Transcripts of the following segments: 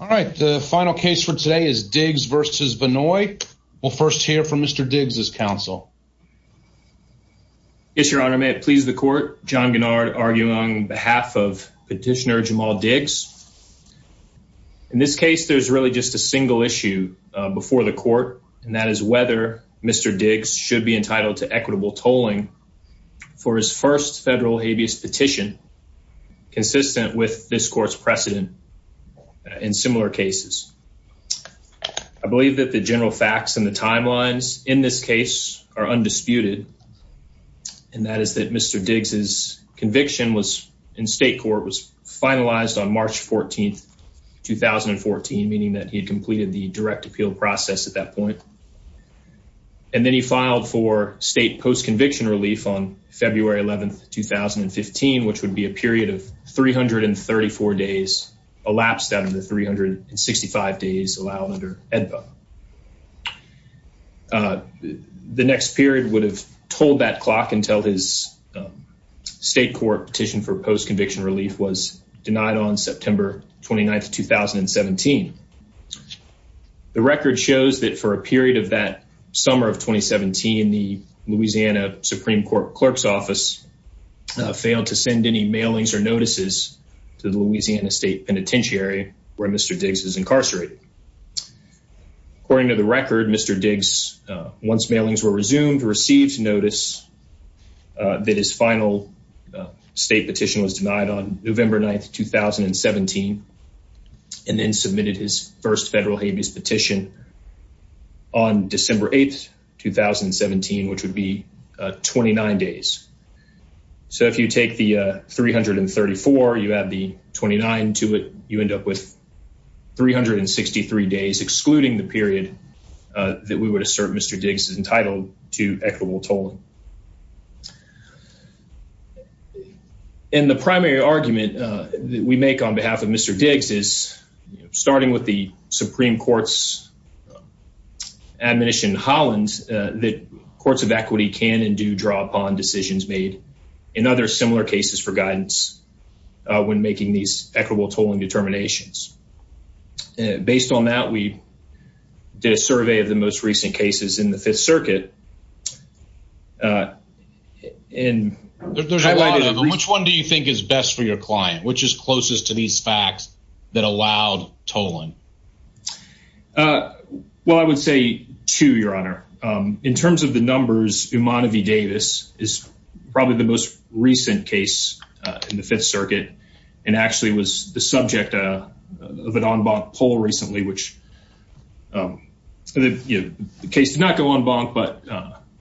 All right, the final case for today is Diggs v. Vannoy. We'll first hear from Mr. Diggs' counsel. Yes, your honor, may it please the court. John Gennard arguing on behalf of petitioner Jamal Diggs. In this case there's really just a single issue before the court and that is whether Mr. Diggs should be entitled to equitable tolling for his first federal habeas petition consistent with this court's precedent in similar cases. I believe that the general facts and the timelines in this case are undisputed and that is that Mr. Diggs' conviction was in state court was finalized on March 14, 2014, meaning that he completed the direct appeal process at that point. And then he filed for state post-conviction relief on February 11, 2015, which would be a period of 334 days, elapsed out of the 365 days allowed under AEDPA. The next period would have tolled that clock until his state court petition for post-conviction relief was denied on September 29, 2017. The record shows that for a period of that summer of 2017, the Louisiana Supreme Court clerk's office failed to send any mailings or notices to the Louisiana State Penitentiary where Mr. Diggs is incarcerated. According to the record, Mr. Diggs, once mailings were resumed, received notice that his final state petition was denied on November 9, 2017, and then submitted his first So if you take the 334, you add the 29 to it, you end up with 363 days excluding the period that we would assert Mr. Diggs is entitled to equitable tolling. And the primary argument that we make on behalf of Mr. Diggs is, starting with the Supreme Court's admonition in Hollins, that courts of equity can and do draw upon decisions made in other similar cases for guidance when making these equitable tolling determinations. Based on that, we did a survey of the most recent cases in the Fifth Circuit. Which one do you think is best for your client? Which is closest to these facts that allowed tolling? Well, I would say two, Your Honor. In terms of the numbers, Umanah v. Davis is probably the most recent case in the Fifth Circuit, and actually was the subject of an en banc poll recently, which the case did not go en banc, but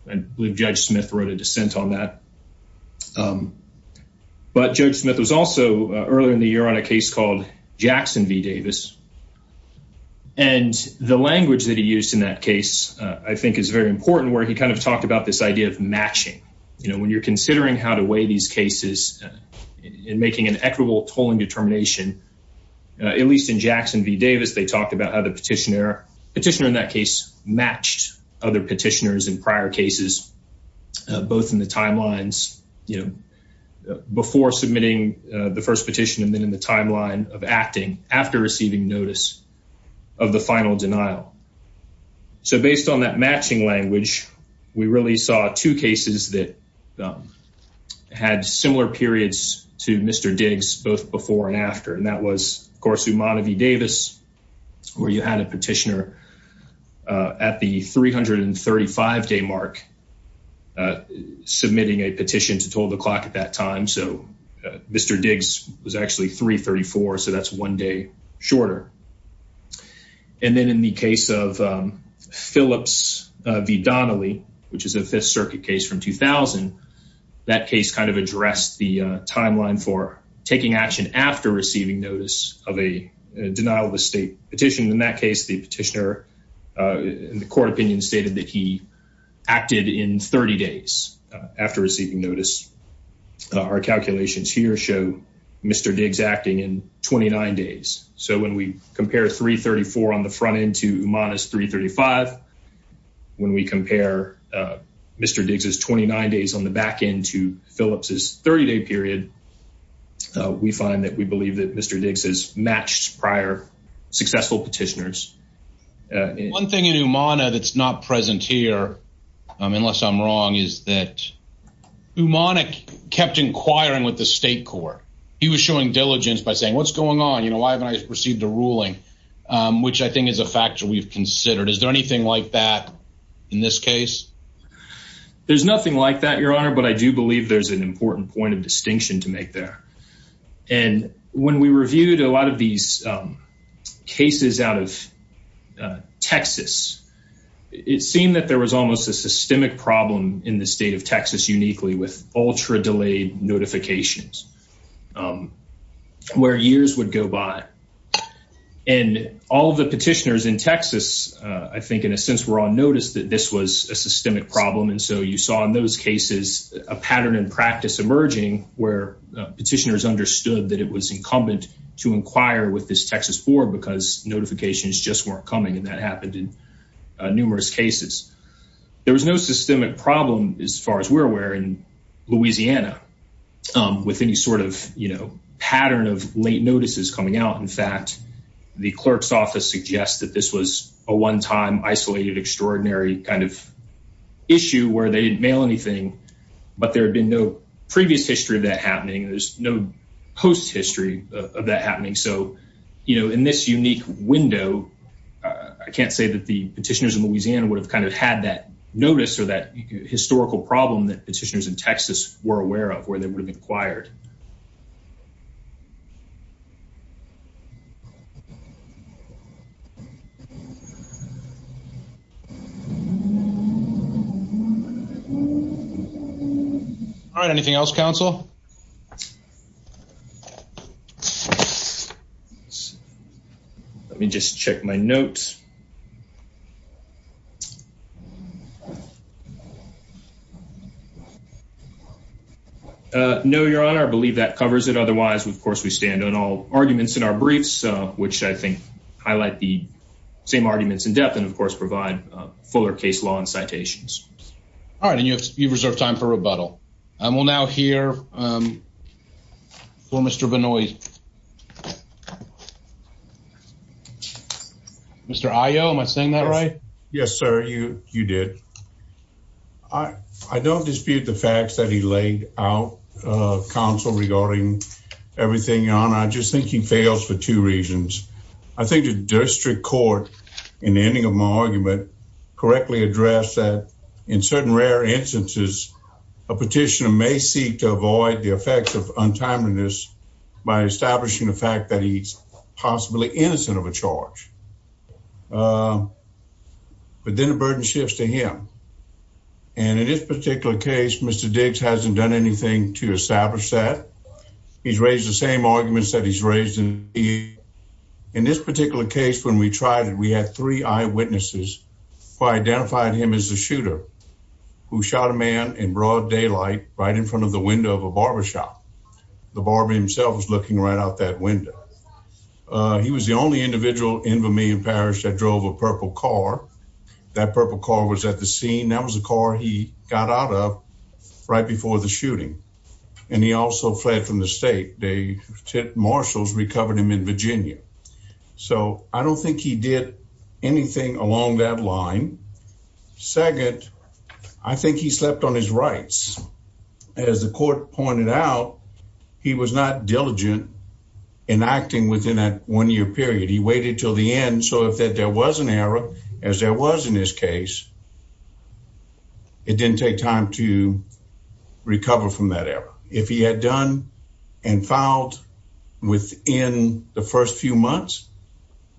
I believe Judge Smith wrote a dissent on that. But Judge Smith was also, earlier in the year, on a case called Jackson v. Davis. And the language that he used in that case, I think, is very important, where he kind of talked about this idea of matching. You know, when you're considering how to weigh these cases in making an equitable tolling determination, at least in Jackson v. Davis, they talked about how the petitioner in that case matched other petitioners in prior cases, both in the timelines, before submitting the first petition, and then in the timeline of acting, after receiving notice of the final denial. So based on that matching language, we really saw two cases that had similar periods to Mr. Diggs, both before and after. And that was, of course, Umanah v. Davis, where you had a petitioner at the 335-day mark submitting a shorter petition. And then in the case of Phillips v. Donnelly, which is a Fifth Circuit case from 2000, that case kind of addressed the timeline for taking action after receiving notice of a denial of estate petition. In that case, the petitioner, in the court opinion, stated that he acted in 30 days after receiving notice. Our calculations here show Mr. Diggs acting in 29 days. So when we compare 334 on the front end to Umanah's 335, when we compare Mr. Diggs's 29 days on the back end to Phillips's 30-day period, we find that we believe that Mr. Diggs has matched prior successful petitioners. One thing in Umanah that's not present here, unless I'm wrong, is that Umanah kept inquiring with the state court. He was showing diligence by saying, what's going on? Why haven't I received a ruling? Which I think is a factor we've considered. Is there anything like that in this case? There's nothing like that, Your Honor, but I do believe there's an important point of distinction to make there. And when we reviewed a lot of these cases out of Texas, it seemed that there was almost a systemic problem in the state of Texas uniquely with ultra-delayed notifications where years would go by. And all the petitioners in Texas, I think in a sense, were on notice that this was a systemic problem. And so you saw in those cases a pattern in practice emerging where petitioners understood that it was incumbent to inquire with this Texas board because notifications just weren't coming. And that Louisiana, with any sort of pattern of late notices coming out, in fact, the clerk's office suggests that this was a one-time, isolated, extraordinary kind of issue where they didn't mail anything, but there had been no previous history of that happening. There's no post-history of that happening. So in this unique window, I can't say that the petitioners in Louisiana would have kind of had that notice or that historical problem that the petitioners in Texas were aware of, where they would have inquired. All right. Anything else, counsel? Let me just check my notes. No, Your Honor. I believe that covers it. Otherwise, of course, we stand on all arguments in our briefs, which I think highlight the same arguments in depth and, of course, provide fuller case law and citations. All right. And you've reserved time for rebuttal. We'll now hear from Mr. Benoit. Mr. Ayo, am I saying that right? Yes, sir. You did. I don't dispute the facts that he laid out, counsel, regarding everything, Your Honor. I just think he fails for two reasons. I think the district court, in the ending of my argument, correctly addressed that in certain rare instances, a petitioner may seek to avoid the effects of untimeliness by establishing the fact that he's possibly innocent of a charge. But then the burden shifts to him. And in this particular case, Mr. Diggs hasn't done anything to establish that. He's raised the same arguments that he's raised. In this particular case, when we tried it, we had three eyewitnesses who identified him as the shooter who shot a man in broad daylight right in front of the window of a barbershop. The barber himself was looking right out that window. He was the only individual in Vermillion Parish that drove a purple car. That purple car was at the scene. That was the car he got out of right before the shooting. And he also fled from the state. The marshals recovered him in Virginia. So I don't think he did anything along that line. Second, I think he slept on his rights. As the court pointed out, he was not diligent in acting within that one-year period. He waited till the end so that there was an error, as there was in this case. It didn't take time to recover from that error. If he had done and filed within the first few months,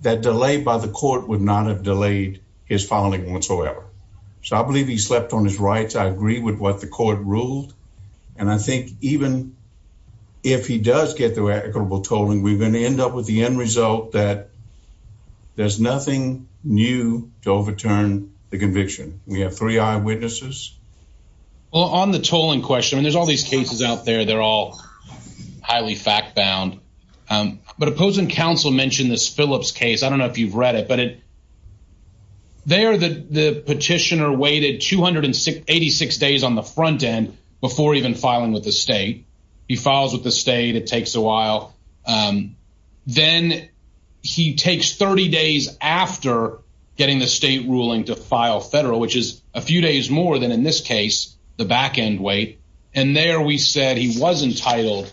that delay by the court would not have delayed his filing whatsoever. So I believe he slept on his rights. I agree with what the court ruled. And I think even if he does get the equitable tolling, we're going to end up with the end result that there's nothing new to overturn the conviction. We have three eyewitnesses. Well, on the tolling question, I mean, there's all these cases out there. They're all highly fact-bound. But opposing counsel mentioned this Phillips case. I don't know if you've read it, but there the petitioner waited 286 days on the front end before even filing with the state. He files with the state. It takes a while. Then he takes 30 days after getting the state ruling to file federal, which is a few days more than in this case, the back-end wait. And there we said he was entitled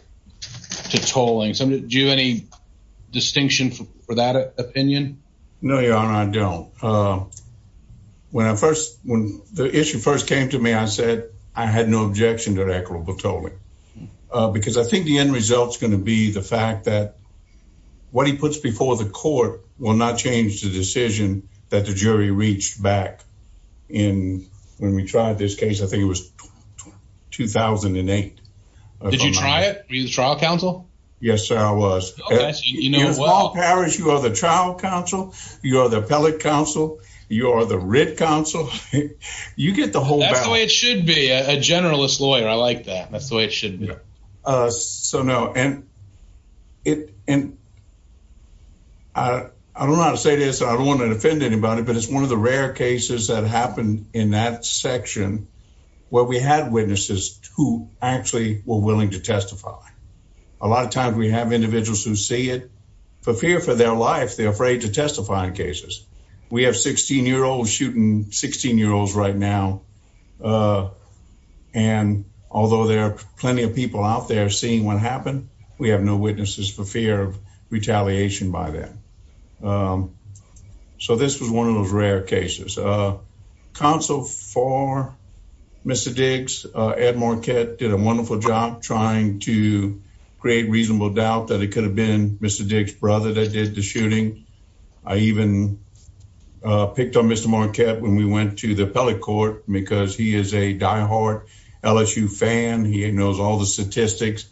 to tolling. Do you have any distinction for that opinion? No, Your Honor, I don't. When the issue first came to me, I said I had no objection to equitable tolling. Because I think the end result is going to be the fact that what he puts before the court will not change the decision that the jury reached back in when we tried this case. I think it was 2008. Did you try it? Were you the trial counsel? Yes, sir, I was. Yes, Paul Parrish, you are the trial counsel. You are the appellate counsel. You are the writ counsel. You get the That's the way it should be. A generalist lawyer. I like that. That's the way it should be. So no, and I don't know how to say this. I don't want to offend anybody, but it's one of the rare cases that happened in that section where we had witnesses who actually were willing to testify. A lot of times we have individuals who see it for fear for their life. They're afraid to testify cases. We have 16-year-olds shooting 16-year-olds right now. And although there are plenty of people out there seeing what happened, we have no witnesses for fear of retaliation by them. So this was one of those rare cases. Counsel for Mr. Diggs, Ed Marquette, did a wonderful job trying to create reasonable doubt that it could have been Mr. Diggs' brother that did the shooting, I even picked on Mr. Marquette when we went to the appellate court because he is a diehard LSU fan. He knows all the statistics.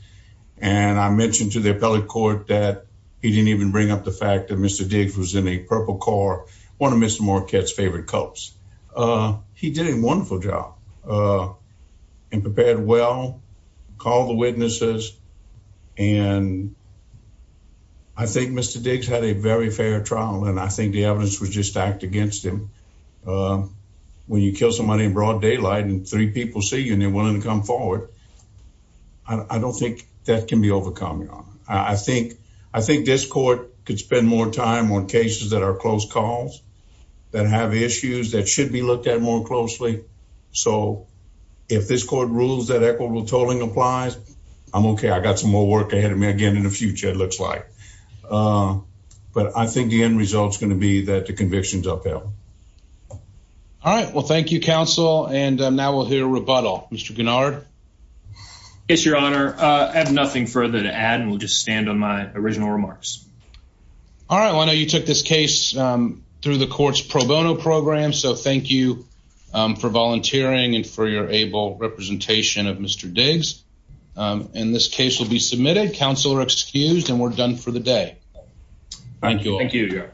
And I mentioned to the appellate court that he didn't even bring up the fact that Mr. Diggs was in a purple car, one of Mr. Marquette's favorite Cubs. He did a wonderful job and prepared well, called the witnesses. And I think Mr. Diggs had a very fair trial and I think the evidence was just stacked against him. When you kill somebody in broad daylight and three people see you and they're willing to come forward, I don't think that can be overcome, Your Honor. I think this court could spend more time on cases that are close calls, that have issues that should be applied. I'm okay. I got some more work ahead of me again in the future, it looks like. But I think the end result is going to be that the conviction is upheld. All right. Well, thank you, counsel. And now we'll hear rebuttal. Mr. Guinard? Yes, Your Honor. I have nothing further to add and will just stand on my original remarks. All right. Well, I know you took this case through the court's pro bono program. So, thank you for volunteering and for your able representation of Mr. Diggs. And this case will be submitted. Counsel are excused and we're done for the day. Thank you. Thank you, Your Honor.